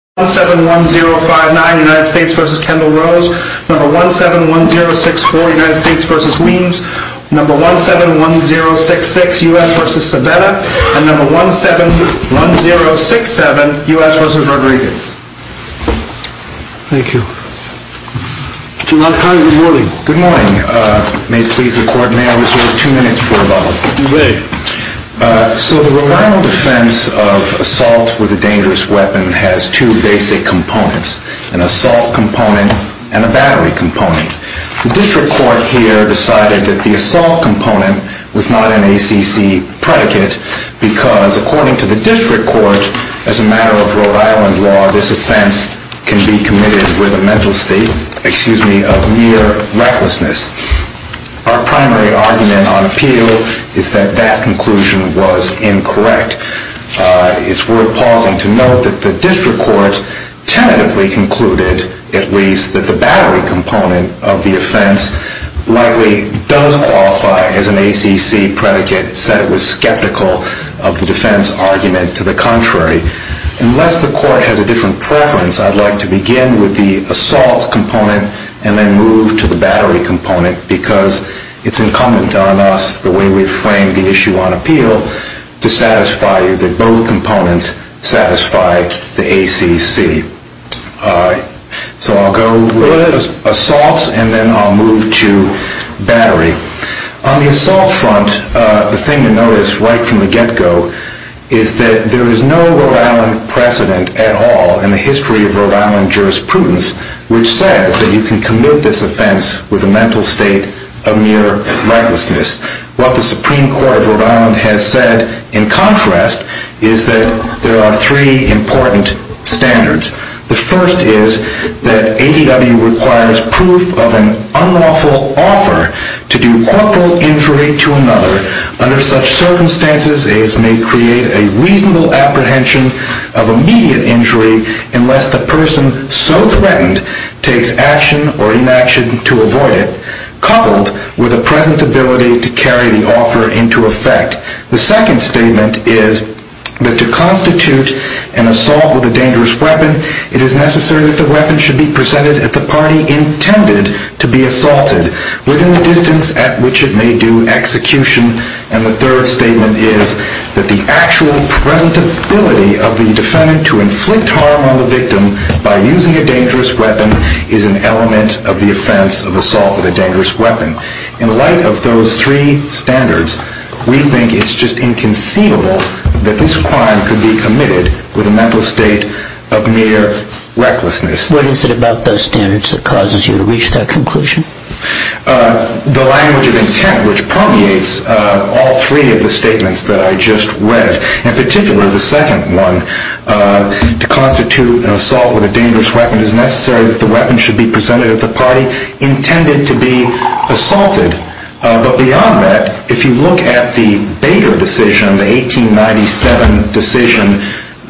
171064 U.S. v. Weems 171066 U.S. v. Sabetta 171067 U.S. v. Rodriguez Thank you. Mr. Malkin, good morning. Good morning. May it please the Court, may I reserve two minutes for rebuttal? You may. So the Rhode Island defense of assault with a dangerous weapon has two basic components, an assault component and a battery component. The district court here decided that the assault component was not an ACC predicate because according to the district court, as a matter of Rhode Island law, this offense can be committed with a mental state of mere recklessness. Our primary argument on appeal is that that conclusion was incorrect. It's worth pausing to note that the district court tentatively concluded, at least, that the battery component of the offense likely does qualify as an ACC predicate. It said it was skeptical of the defense argument. To the contrary, unless the court has a different preference, I'd like to begin with the assault component and then move to the battery component because it's incumbent on us, the way we've framed the issue on appeal, to satisfy you that both components satisfy the ACC. So I'll go with assault and then I'll move to battery. On the assault front, the thing to notice right from the get-go is that there is no Rhode Island precedent at all in the history of Rhode Island jurisprudence which says that you can commit this offense with a mental state of mere recklessness. What the Supreme Court of Rhode Island has said, in contrast, is that there are three important standards. The first is that ADW requires proof of an unlawful offer to do corporal injury to another. Under such circumstances, it may create a reasonable apprehension of immediate injury unless the person so threatened takes action or inaction to avoid it, coupled with a present ability to carry the offer into effect. The second statement is that to constitute an assault with a dangerous weapon, it is necessary that the weapon should be presented at the party intended to be assaulted, within the distance at which it may do execution. And the third statement is that the actual present ability of the defendant to inflict harm on the victim by using a dangerous weapon is an element of the offense of assault with a dangerous weapon. In light of those three standards, we think it's just inconceivable that this crime could be committed with a mental state of mere recklessness. What is it about those standards that causes you to reach that conclusion? The language of intent which permeates all three of the statements that I just read, in particular the second one, to constitute an assault with a dangerous weapon, it is necessary that the weapon should be presented at the party intended to be assaulted. But beyond that, if you look at the Baker decision, the 1897 decision,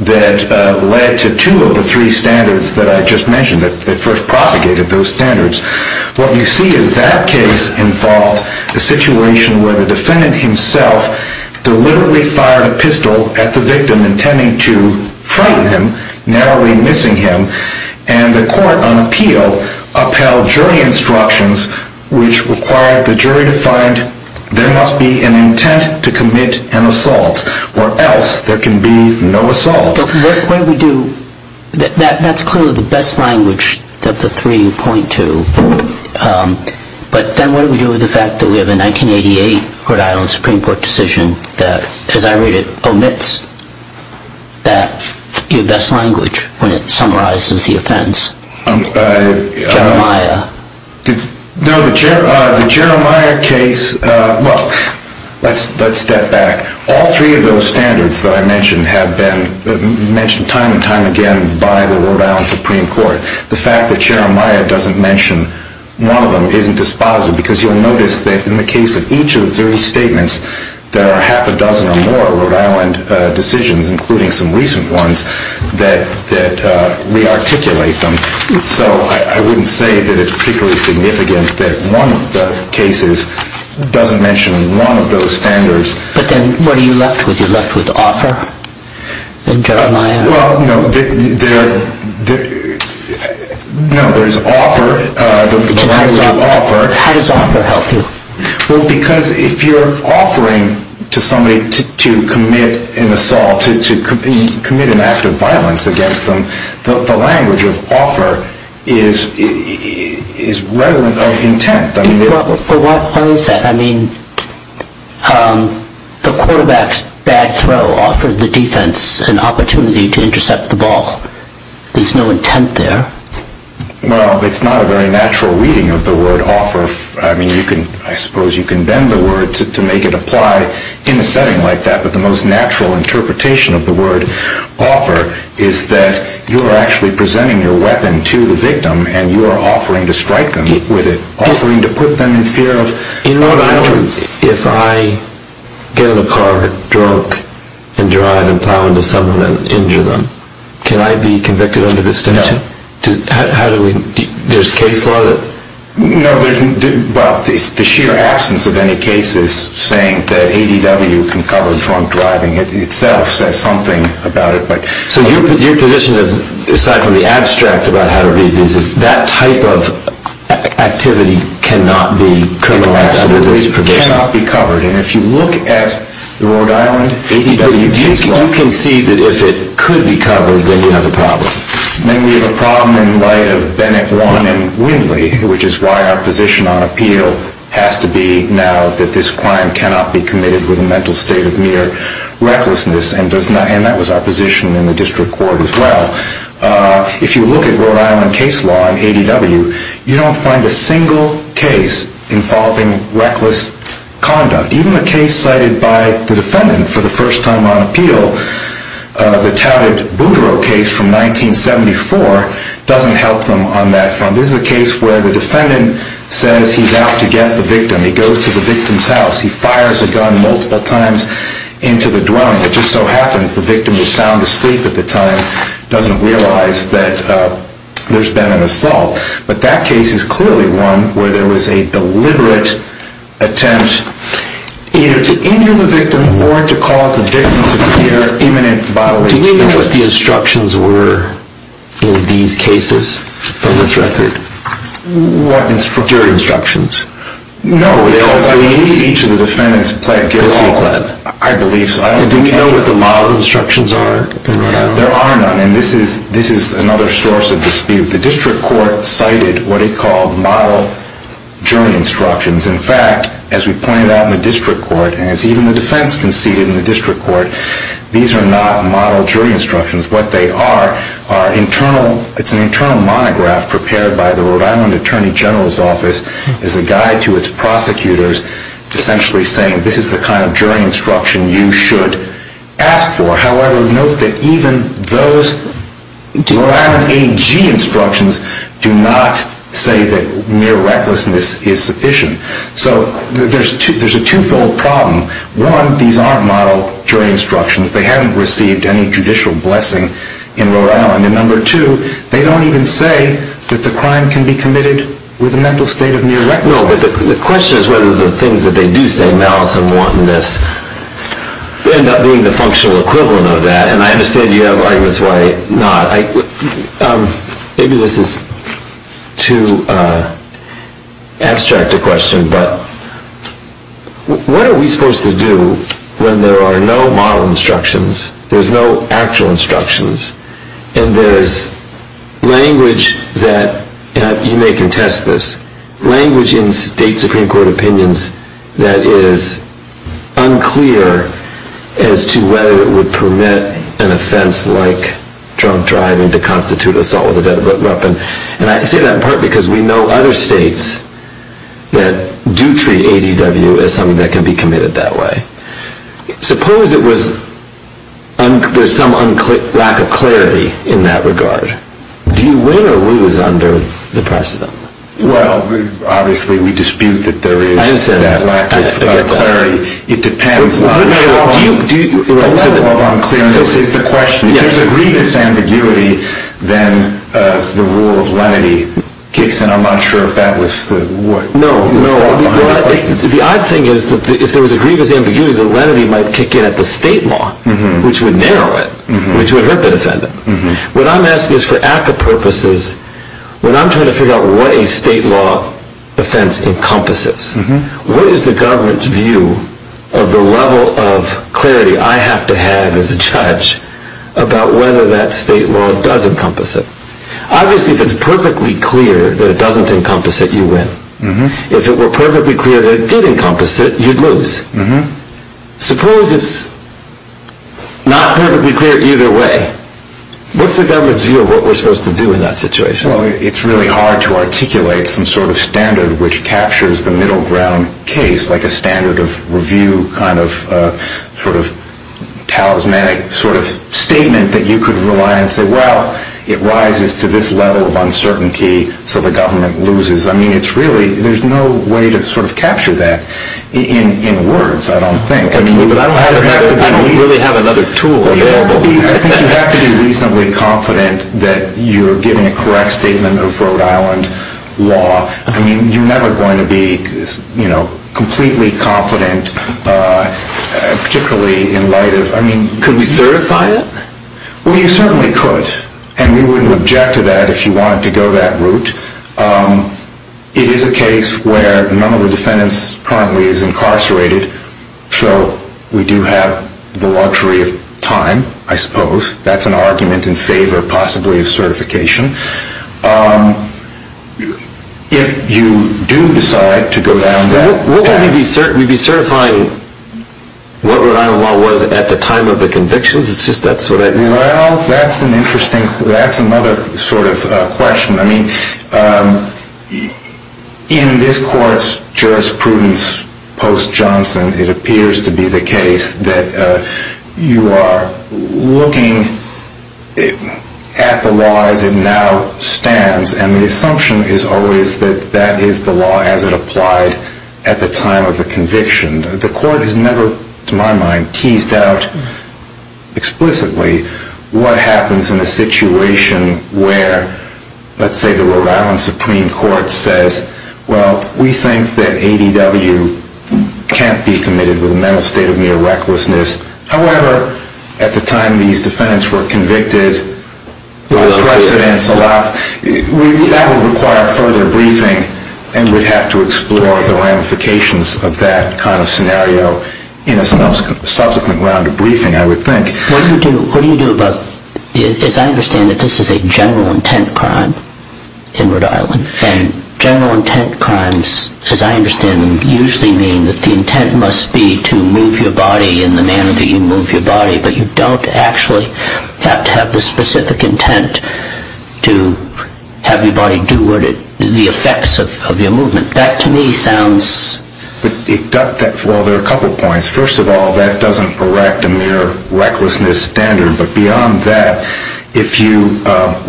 that led to two of the three standards that I just mentioned, that first propagated those standards, what you see is that case involved a situation where the defendant himself deliberately fired a pistol at the victim intending to frighten him, narrowly missing him, and the court on appeal upheld jury instructions which required the jury to find there must be an intent to commit an assault, or else there can be no assault. That's clearly the best language of the 3.2. But then what do we do with the fact that we have a 1988 Rhode Island Supreme Court decision that, as I read it, omits that best language when it summarizes the offense? Jeremiah. No, the Jeremiah case, well, let's step back. All three of those standards that I mentioned have been mentioned time and time again by the Rhode Island Supreme Court. The fact that Jeremiah doesn't mention one of them isn't dispositive, because you'll notice that in the case of each of the three statements, there are half a dozen or more Rhode Island decisions, including some recent ones, that rearticulate them. So I wouldn't say that it's particularly significant that one of the cases doesn't mention one of those standards. But then what are you left with? You're left with offer? Well, no, there's offer. How does offer help you? Well, because if you're offering to somebody to commit an assault, to commit an act of violence against them, the language of offer is relevant of intent. But what is that? I mean, the quarterback's bad throw offered the defense an opportunity to intercept the ball. There's no intent there. Well, it's not a very natural reading of the word offer. I mean, I suppose you can bend the word to make it apply in a setting like that, but the most natural interpretation of the word offer is that you are actually presenting your weapon to the victim and you are offering to strike them with it, offering to put them in fear of... In Rhode Island, if I get in a car drunk and drive and plow into someone and injure them, can I be convicted under this dimension? No. How do we... there's case law that... No, there's... well, the sheer absence of any cases saying that ADW can cover drunk driving itself says something about it, but... So your position is, aside from the abstract about how to read these, is that type of activity cannot be criminalized under this provision? It absolutely cannot be covered. And if you look at the Rhode Island ADW case law... Then we have a problem. Then we have a problem in light of Bennett, Wong, and Windley, which is why our position on appeal has to be now that this crime cannot be committed with a mental state of mere recklessness, and that was our position in the district court as well. If you look at Rhode Island case law in ADW, you don't find a single case involving reckless conduct. Even a case cited by the defendant for the first time on appeal, the touted Boudreaux case from 1974, doesn't help them on that front. This is a case where the defendant says he's out to get the victim. He goes to the victim's house. He fires a gun multiple times into the dwelling. It just so happens the victim was sound asleep at the time, doesn't realize that there's been an assault. But that case is clearly one where there was a deliberate attempt either to injure the victim or to cause the victim to fear imminent bodily injury. Do we know what the instructions were in these cases from this record? What instructions? Jury instructions. No, because I believe each of the defendants pled guilty at all. I believe so. Do we know what the model instructions are in Rhode Island? There are none, and this is another source of dispute. The district court cited what it called model jury instructions. In fact, as we pointed out in the district court, and as even the defense conceded in the district court, these are not model jury instructions. What they are, it's an internal monograph prepared by the Rhode Island Attorney General's office as a guide to its prosecutors essentially saying this is the kind of jury instruction you should ask for. However, note that even those Rhode Island AG instructions do not say that mere recklessness is sufficient. So there's a twofold problem. One, these aren't model jury instructions. They haven't received any judicial blessing in Rhode Island. And number two, they don't even say that the crime can be committed with a mental state of mere recklessness. No, but the question is whether the things that they do say, malice and wantonness, end up being the functional equivalent of that. And I understand you have arguments why not. Maybe this is too abstract a question, but what are we supposed to do when there are no model instructions, there's no actual instructions, and there's language that, you may contest this, language in state Supreme Court opinions that is unclear as to whether it would permit an offense like drunk driving to constitute assault with a deadly weapon. And I say that in part because we know other states that do treat ADW as something that can be committed that way. Suppose it was, there's some lack of clarity in that regard. Do you win or lose under the precedent? Well, obviously we dispute that there is that lack of clarity. It depends on... A level of unclearness is the question. If there's a grievous ambiguity, then the rule of lenity kicks in. I'm not sure if that was the... The odd thing is that if there was a grievous ambiguity, the lenity might kick in at the state law, which would narrow it, which would hurt the defendant. What I'm asking is for ACCA purposes, when I'm trying to figure out what a state law offense encompasses, what is the government's view of the level of clarity I have to have as a judge about whether that state law does encompass it. Obviously, if it's perfectly clear that it doesn't encompass it, you win. If it were perfectly clear that it did encompass it, you'd lose. Suppose it's not perfectly clear either way. What's the government's view of what we're supposed to do in that situation? Well, it's really hard to articulate some sort of standard which captures the middle ground case, like a standard of review kind of sort of talismanic sort of statement that you could rely on and say, well, it rises to this level of uncertainty, so the government loses. I mean, it's really, there's no way to sort of capture that in words, I don't think. I don't really have another tool available. I think you have to be reasonably confident that you're giving a correct statement of Rhode Island law. I mean, you're never going to be completely confident, particularly in light of... Could we certify it? Well, you certainly could, and we wouldn't object to that if you wanted to go that route. It is a case where none of the defendants currently is incarcerated, so we do have the luxury of time, I suppose. That's an argument in favor, possibly, of certification. If you do decide to go down that path... We'd be certifying what Rhode Island law was at the time of the convictions? Well, that's an interesting, that's another sort of question. I mean, in this court's jurisprudence post-Johnson, it appears to be the case that you are looking at the law as it now stands, and the assumption is always that that is the law as it applied at the time of the conviction. The court has never, to my mind, teased out explicitly what happens in a situation where, let's say the Rhode Island Supreme Court says, well, we think that ADW can't be committed with a mental state of mere recklessness. However, at the time these defendants were convicted, that would require further briefing, and we'd have to explore the ramifications of that kind of scenario in a subsequent round of briefing, I would think. What do you do about, as I understand it, this is a general intent crime in Rhode Island, and general intent crimes, as I understand them, usually mean that the intent must be to move your body in the manner that you move your body, but you don't actually have to have the specific intent to have your body do the effects of your movement. That, to me, sounds... Well, there are a couple of points. First of all, that doesn't erect a mere recklessness standard, but beyond that, if you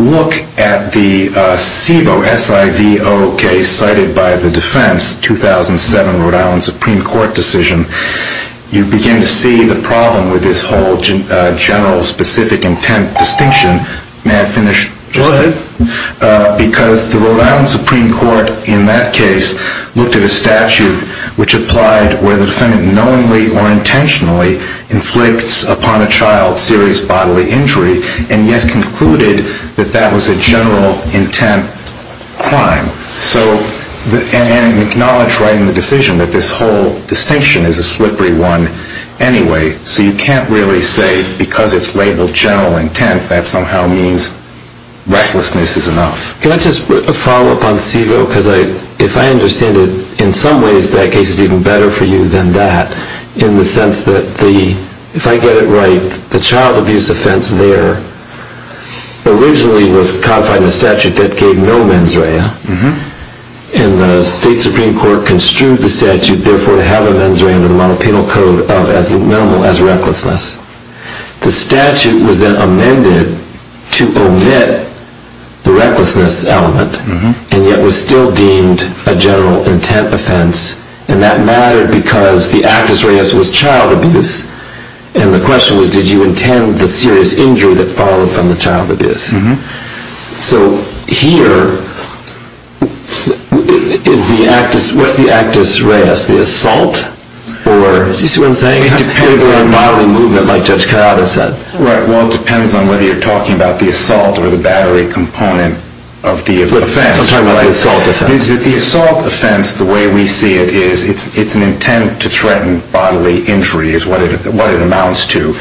look at the SIVO, S-I-V-O case cited by the defense, 2007 Rhode Island Supreme Court decision, you begin to see the problem with this whole general specific intent distinction. May I finish? Go ahead. Because the Rhode Island Supreme Court, in that case, inflicts upon a child serious bodily injury, and yet concluded that that was a general intent crime. And acknowledged right in the decision that this whole distinction is a slippery one anyway, so you can't really say, because it's labeled general intent, that somehow means recklessness is enough. Can I just follow up on SIVO? Because if I understand it, in some ways that case is even better for you than that, in the sense that, if I get it right, the child abuse offense there originally was codified in a statute that gave no mens rea, and the state supreme court construed the statute, therefore to have a mens rea under the model penal code of as minimal as recklessness. The statute was then amended to omit the recklessness element, and yet was still deemed a general intent offense, and that mattered because the actus reus was child abuse, and the question was, did you intend the serious injury that followed from the child abuse? So, here, what's the actus reus? The assault? Do you see what I'm saying? It depends on the bodily movement, like Judge Kayaba said. Well, it depends on whether you're talking about the assault or the battery component of the offense. I'm talking about the assault offense. The assault offense, the way we see it, is it's an intent to threaten bodily injury is what it amounts to.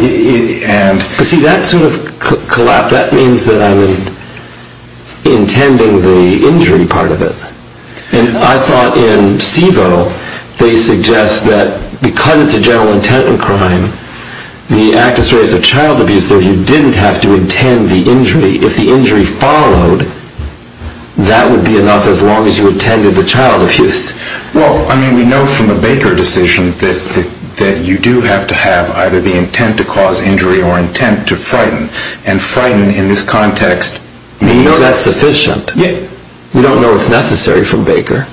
See, that sort of collapse, that means that I'm intending the injury part of it, and I thought in CIVO they suggest that, because it's a general intent crime, the actus reus of child abuse there, you didn't have to intend the injury. If the injury followed, that would be enough as long as you intended the child abuse. Well, I mean, we know from the Baker decision that you do have to have either the intent to cause injury or intent to frighten, and frighten in this context means... We know that's sufficient. We don't know what's necessary from Baker.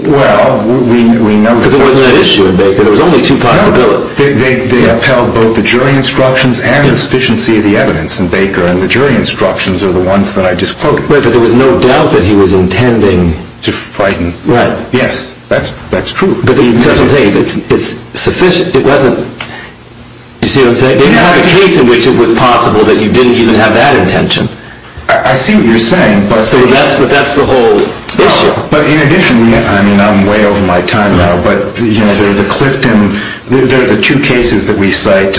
Well, we know... Because it wasn't an issue in Baker. There was only two possibilities. They upheld both the jury instructions and the sufficiency of the evidence in Baker, and the jury instructions are the ones that I just quoted. But there was no doubt that he was intending to frighten. Right. Yes, that's true. But the intent was eight. It's sufficient. It wasn't... You see what I'm saying? They didn't have a case in which it was possible that you didn't even have that intention. I see what you're saying, but... But that's the whole issue. But in addition, I mean, I'm way over my time now, but, you know, the Clifton... There are the two cases that we cite,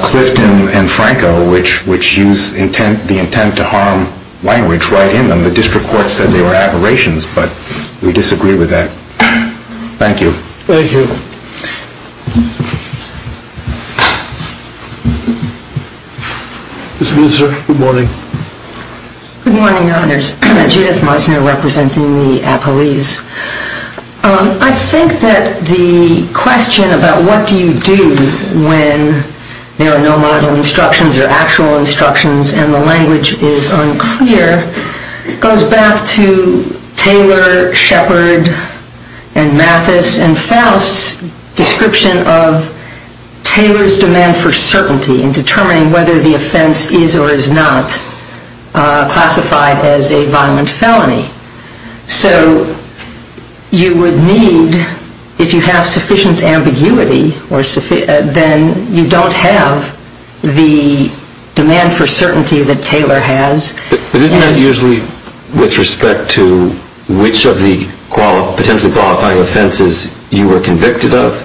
Clifton and Franco, which use the intent to harm language right in them. The district court said they were aberrations, but we disagree with that. Thank you. Thank you. Ms. Muenzer, good morning. Good morning, Your Honors. Judith Muenzer representing the appellees. I think that the question about what do you do when there are no model instructions or actual instructions and the language is unclear goes back to Taylor, Shepard, and Mathis, and Faust's description of Taylor's demand for certainty in determining whether the offense is or is not classified as a violent felony. So you would need, if you have sufficient ambiguity, then you don't have the demand for certainty that Taylor has. But isn't that usually with respect to which of the potentially qualifying offenses you were convicted of?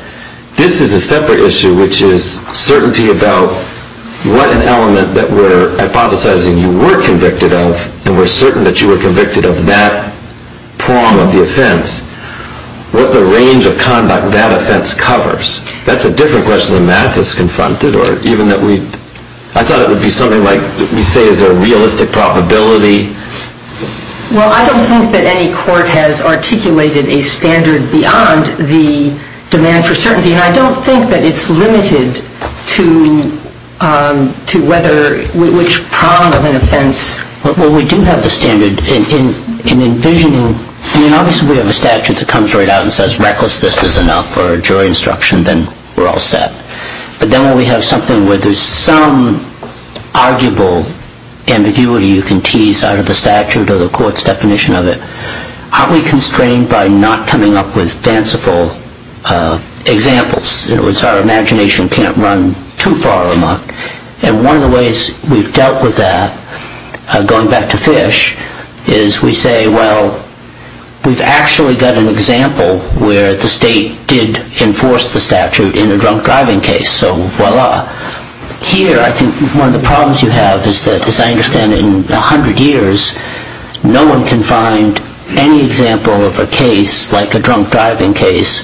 This is a separate issue, which is certainty about what an element that we're hypothesizing you were convicted of and we're certain that you were convicted of that prong of the offense, what the range of conduct that offense covers. That's a different question than Mathis confronted, or even that we... I thought it would be something like we say is there a realistic probability. Well, I don't think that any court has articulated a standard beyond the demand for certainty, and I don't think that it's limited to whether which prong of an offense... Well, we do have the standard in envisioning... I mean, obviously we have a statute that comes right out and says recklessness is enough or jury instruction, then we're all set. But then when we have something where there's some arguable ambiguity you can tease out of the statute or the court's definition of it, aren't we constrained by not coming up with fanciful examples? In other words, our imagination can't run too far amok. And one of the ways we've dealt with that, going back to Fish, is we say, well, we've actually got an example where the state did enforce the statute in a drunk driving case, so voila. Here, I think one of the problems you have is that, as I understand it, in 100 years, no one can find any example of a case like a drunk driving case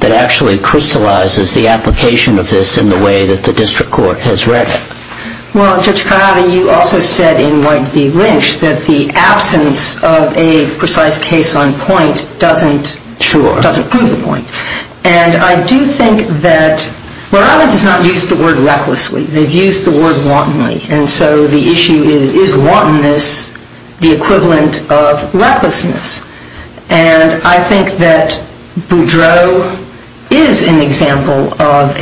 that actually crystallizes the application of this in the way that the district court has read it. Well, Judge Cognato, you also said in White v. Lynch that the absence of a precise case on point doesn't prove the point. And I do think that... Rhode Island has not used the word recklessly. They've used the word wantonly. And so the issue is, is wantonness the equivalent of recklessness? And I think that Boudreau is an example of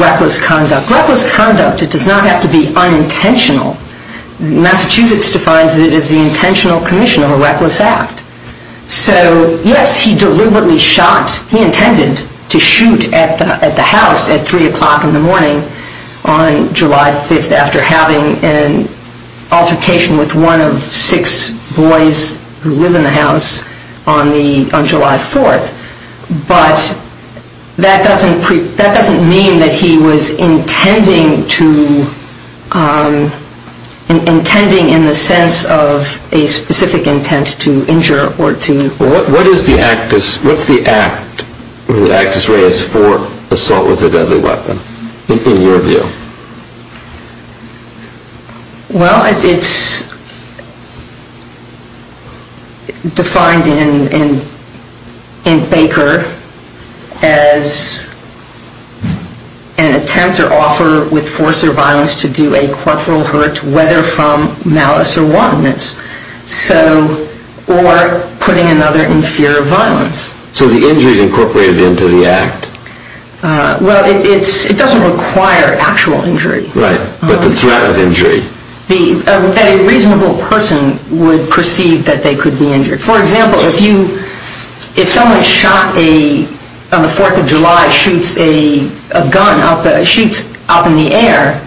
reckless conduct. Reckless conduct, it does not have to be unintentional. Massachusetts defines it as the intentional commission of a reckless act. So, yes, he deliberately shot. He intended to shoot at the house at 3 o'clock in the morning on July 5th after having an altercation with one of six boys who live in the house on July 4th. But that doesn't mean that he was intending in the sense of a specific intent to injure or to... Well, it's defined in Baker as an attempt or offer with force or violence to do a corporal hurt, whether from malice or wantonness, or putting another in fear of violence. So the injury is incorporated into the act. Well, it doesn't require actual injury. Right, but the threat of injury. A reasonable person would perceive that they could be injured. For example, if someone shot on the 4th of July shoots a gun out in the air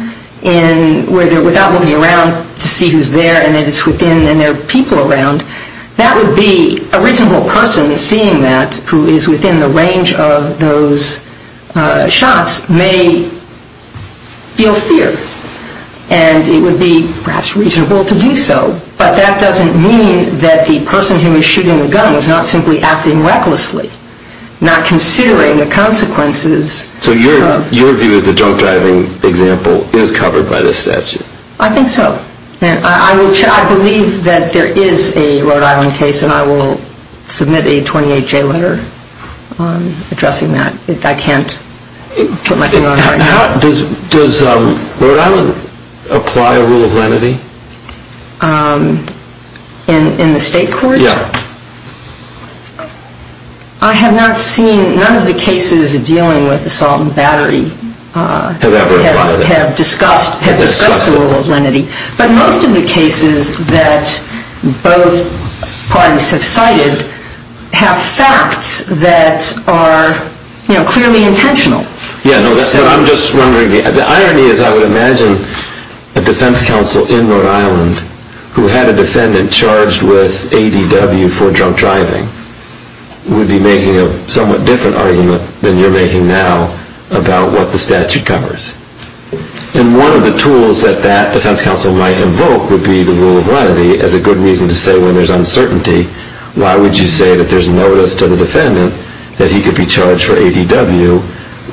without moving around to see who's there and it's within and there are people around, that would be a reasonable person seeing that, who is within the range of those shots may feel fear. And it would be perhaps reasonable to do so. But that doesn't mean that the person who was shooting the gun was not simply acting recklessly, not considering the consequences. So your view of the drunk driving example is covered by the statute? I think so. I believe that there is a Rhode Island case and I will submit a 28-J letter addressing that. I can't put my finger on it right now. Does Rhode Island apply a rule of lenity? In the state court? Yeah. I have not seen, none of the cases dealing with assault and battery have discussed the rule of lenity. But most of the cases that both parties have cited have facts that are clearly intentional. Yeah, but I'm just wondering, the irony is I would imagine a defense counsel in Rhode Island who had a defendant charged with ADW for drunk driving would be making a somewhat different argument than you're making now about what the statute covers. And one of the tools that that defense counsel might invoke would be the rule of lenity as a good reason to say when there's uncertainty, why would you say that there's notice to the defendant that he could be charged for ADW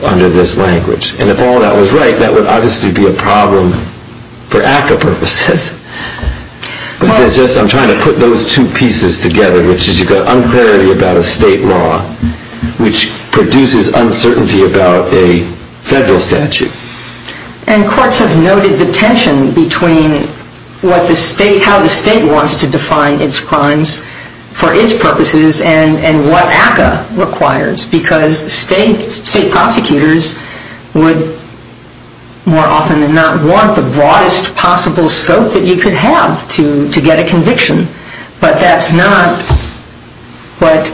under this language? And if all that was right, that would obviously be a problem for ACCA purposes. I'm trying to put those two pieces together, which is you've got unclarity about a state law, which produces uncertainty about a federal statute. And courts have noted the tension between how the state wants to define its crimes for its purposes and what ACCA requires because state prosecutors would more often than not want the broadest possible scope that you could have to get a conviction. But that's not what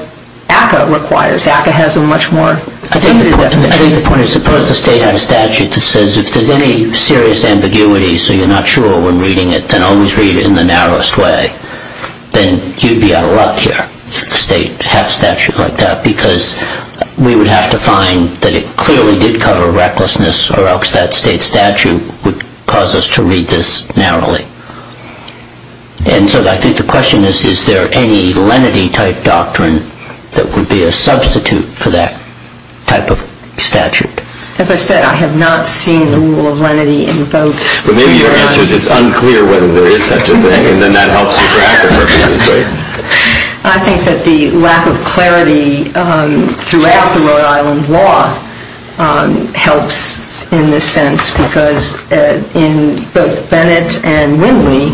ACCA requires. ACCA has a much more limited definition. I think the point is suppose the state had a statute that says if there's any serious ambiguity, so you're not sure when reading it, then always read it in the narrowest way. Then you'd be out of luck here if the state had a statute like that because we would have to find that it clearly did cover recklessness or else that state statute would cause us to read this narrowly. And so I think the question is, is there any lenity-type doctrine that would be a substitute for that type of statute? As I said, I have not seen the rule of lenity invoked. But maybe your answer is it's unclear whether there is such a thing and then that helps you track the purposes, right? I think that the lack of clarity throughout the Rhode Island law helps in this sense because in both Bennett and Winley,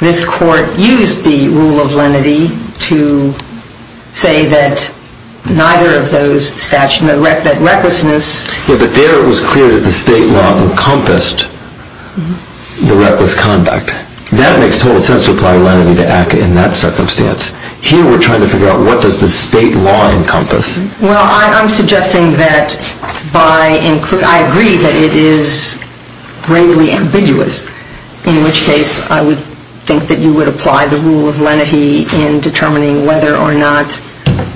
this court used the rule of lenity to say that neither of those statutes, that recklessness... Yeah, but there it was clear that the state law encompassed the reckless conduct. That makes total sense to apply lenity to act in that circumstance. Here we're trying to figure out what does the state law encompass. Well, I'm suggesting that by... I agree that it is gravely ambiguous, in which case I would think that you would apply the rule of lenity in determining whether or not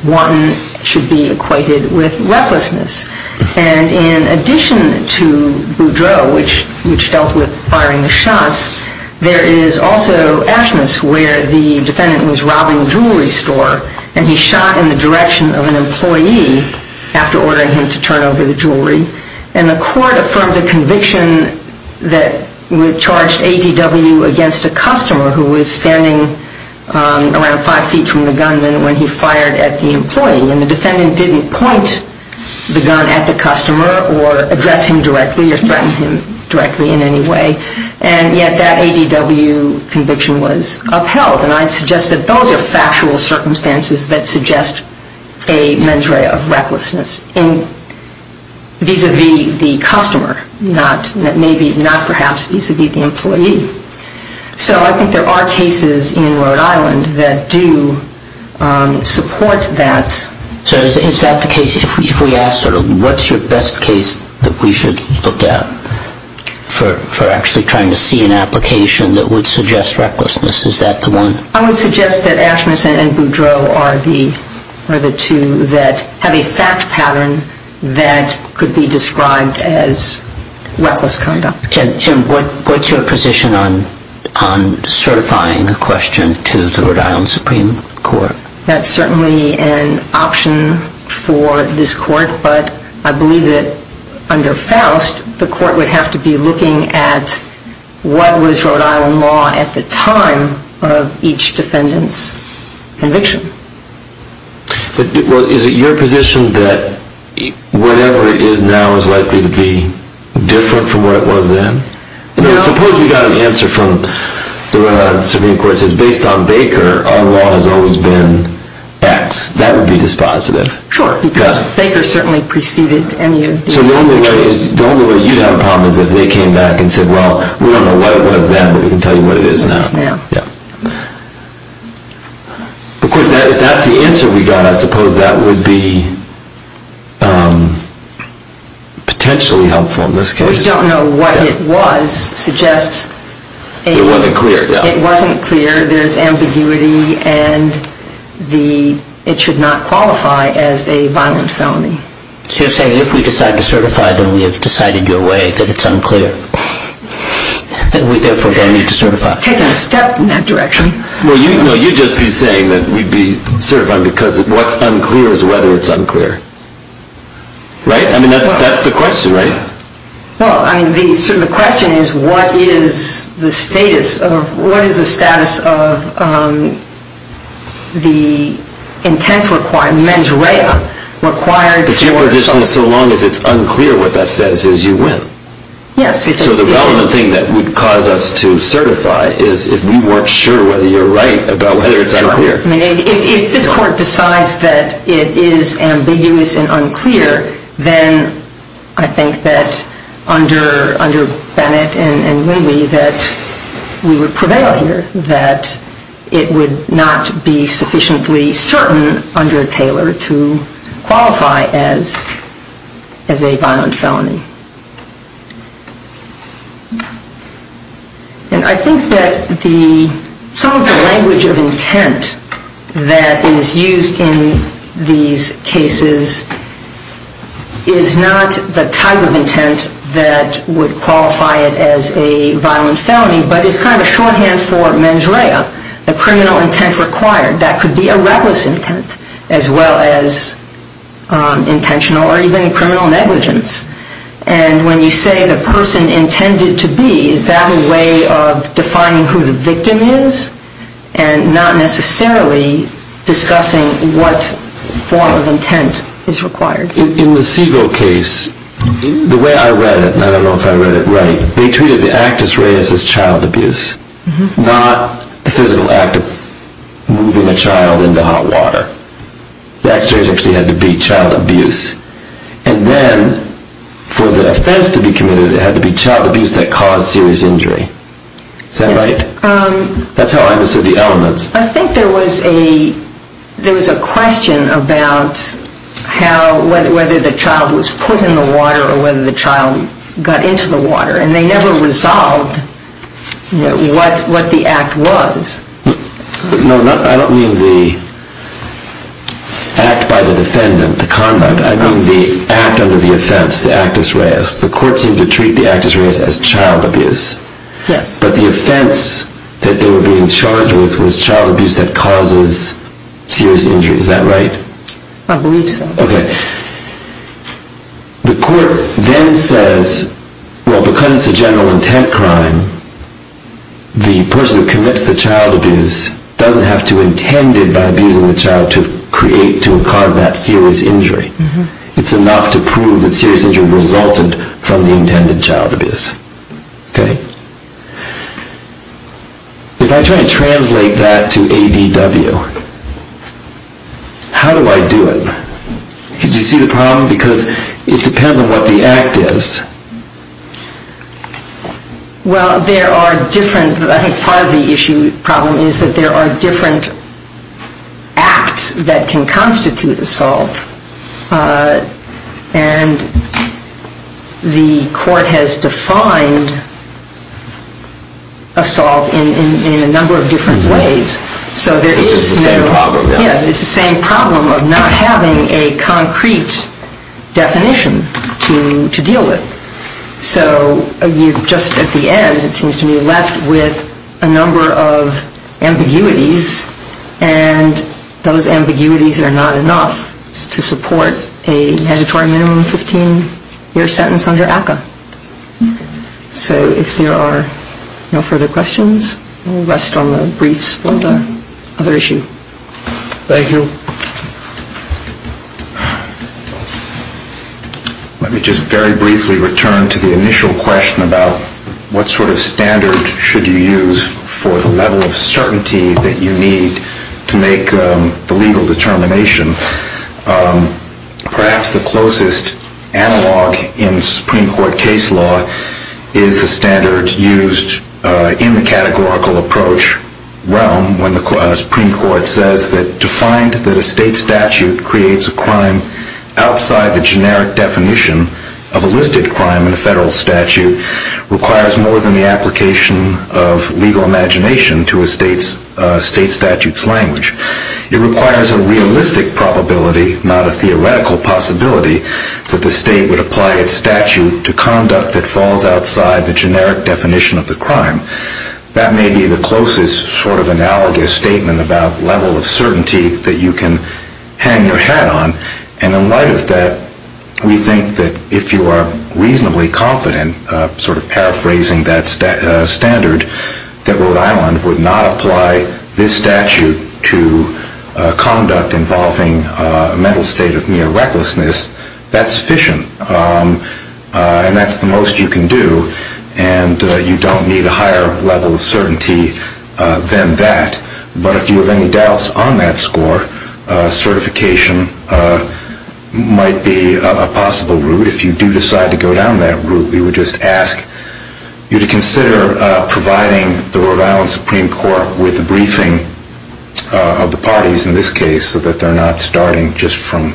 one should be equated with recklessness. And in addition to Boudreaux, which dealt with firing the shots, there is also Ashmus where the defendant was robbing a jewelry store and he shot in the direction of an employee after ordering him to turn over the jewelry. And the court affirmed a conviction that charged ADW against a customer who was standing around five feet from the gunman when he fired at the employee. And the defendant didn't point the gun at the customer or address him directly or threaten him directly in any way. And yet that ADW conviction was upheld. And I'd suggest that those are factual circumstances that suggest a mens rea of recklessness vis-à-vis the customer, not perhaps vis-à-vis the employee. So I think there are cases in Rhode Island that do support that. So is that the case? If we ask sort of what's your best case that we should look at for actually trying to see an application that would suggest recklessness, is that the one? I would suggest that Ashmus and Boudreaux are the two that have a fact pattern that could be described as reckless conduct. Tim, what's your position on certifying a question to the Rhode Island Supreme Court? That's certainly an option for this court, but I believe that under Faust the court would have to be looking at what was Rhode Island law at the time of each defendant's conviction. Well, is it your position that whatever it is now is likely to be different from what it was then? I mean, suppose we got an answer from the Rhode Island Supreme Court that says based on Baker our law has always been X. That would be dispositive. Sure, because Baker certainly preceded any of these other cases. So the only way you'd have a problem is if they came back and said, well, we don't know what it was then, but we can tell you what it is now. Because if that's the answer we got, I suppose that would be potentially helpful in this case. We don't know what it was suggests it wasn't clear. It wasn't clear, there's ambiguity, and it should not qualify as a violent felony. So you're saying if we decide to certify, then we have decided your way, that it's unclear. And we therefore don't need to certify. We've taken a step in that direction. Well, you'd just be saying that we'd be certifying because what's unclear is whether it's unclear. Right? I mean, that's the question, right? Well, I mean, the question is what is the status of the intent required, mens rea. But your position is so long as it's unclear what that status is, you win. Yes. So the relevant thing that would cause us to certify is if we weren't sure whether you're right about whether it's unclear. I mean, if this court decides that it is ambiguous and unclear, then I think that under Bennett and Winley that we would prevail here, that it would not be sufficiently certain under Taylor to qualify as a violent felony. And I think that some of the language of intent that is used in these cases is not the type of intent that would qualify it as a violent felony, but is kind of a shorthand for mens rea, the criminal intent required. That could be a reckless intent as well as intentional or even criminal negligence. And when you say the person intended to be, is that a way of defining who the victim is and not necessarily discussing what form of intent is required? In the Segal case, the way I read it, and I don't know if I read it right, they treated the actus reus as child abuse, not the physical act of moving a child into hot water. The actus reus actually had to be child abuse. And then for the offense to be committed, it had to be child abuse that caused serious injury. Is that right? Yes. That's how I understood the elements. I think there was a question about whether the child was put in the water or whether the child got into the water. And they never resolved what the act was. No, I don't mean the act by the defendant, the conduct. I mean the act under the offense, the actus reus. The court seemed to treat the actus reus as child abuse. Yes. But the offense that they were being charged with was child abuse that causes serious injury. Is that right? I believe so. Okay. The court then says, well, because it's a general intent crime, the person who commits the child abuse doesn't have to intend it by abusing the child to create, to cause that serious injury. It's enough to prove that serious injury resulted from the intended child abuse. Okay? If I try to translate that to ADW, how do I do it? Could you see the problem? Because it depends on what the act is. Well, there are different, I think part of the issue, problem, is that there are different acts that can constitute assault. And the court has defined assault in a number of different ways. It's the same problem, then. Yeah, it's the same problem of not having a concrete definition to deal with. So just at the end, it seems to me, you're left with a number of ambiguities, and those ambiguities are not enough to support a mandatory minimum 15-year sentence under ACCA. So if there are no further questions, we'll rest on the briefs for the other issue. Thank you. Let me just very briefly return to the initial question about what sort of standard should you use for the level of certainty that you need to make the legal determination. Perhaps the closest analog in Supreme Court case law is the standard used in the categorical approach realm when the Supreme Court says that to find that a state statute creates a crime outside the generic definition of a listed crime in the federal statute requires more than the application of legal imagination to a state statute's language. It requires a realistic probability, not a theoretical possibility, that the state would apply its statute to conduct that falls outside the generic definition of the crime. That may be the closest sort of analogous statement about level of certainty that you can hang your hat on. And in light of that, we think that if you are reasonably confident, sort of paraphrasing that standard, that Rhode Island would not apply this statute to conduct involving a mental state of mere recklessness, that's sufficient. And that's the most you can do, and you don't need a higher level of certainty than that. But if you have any doubts on that score, certification might be a possible route. If you do decide to go down that route, we would just ask you to consider providing the Rhode Island Supreme Court with a briefing of the parties in this case so that they're not starting just from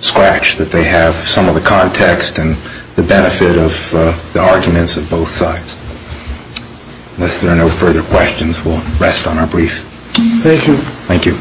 scratch, that they have some of the context and the benefit of the arguments of both sides. Unless there are no further questions, we'll rest on our brief. Thank you. Thank you.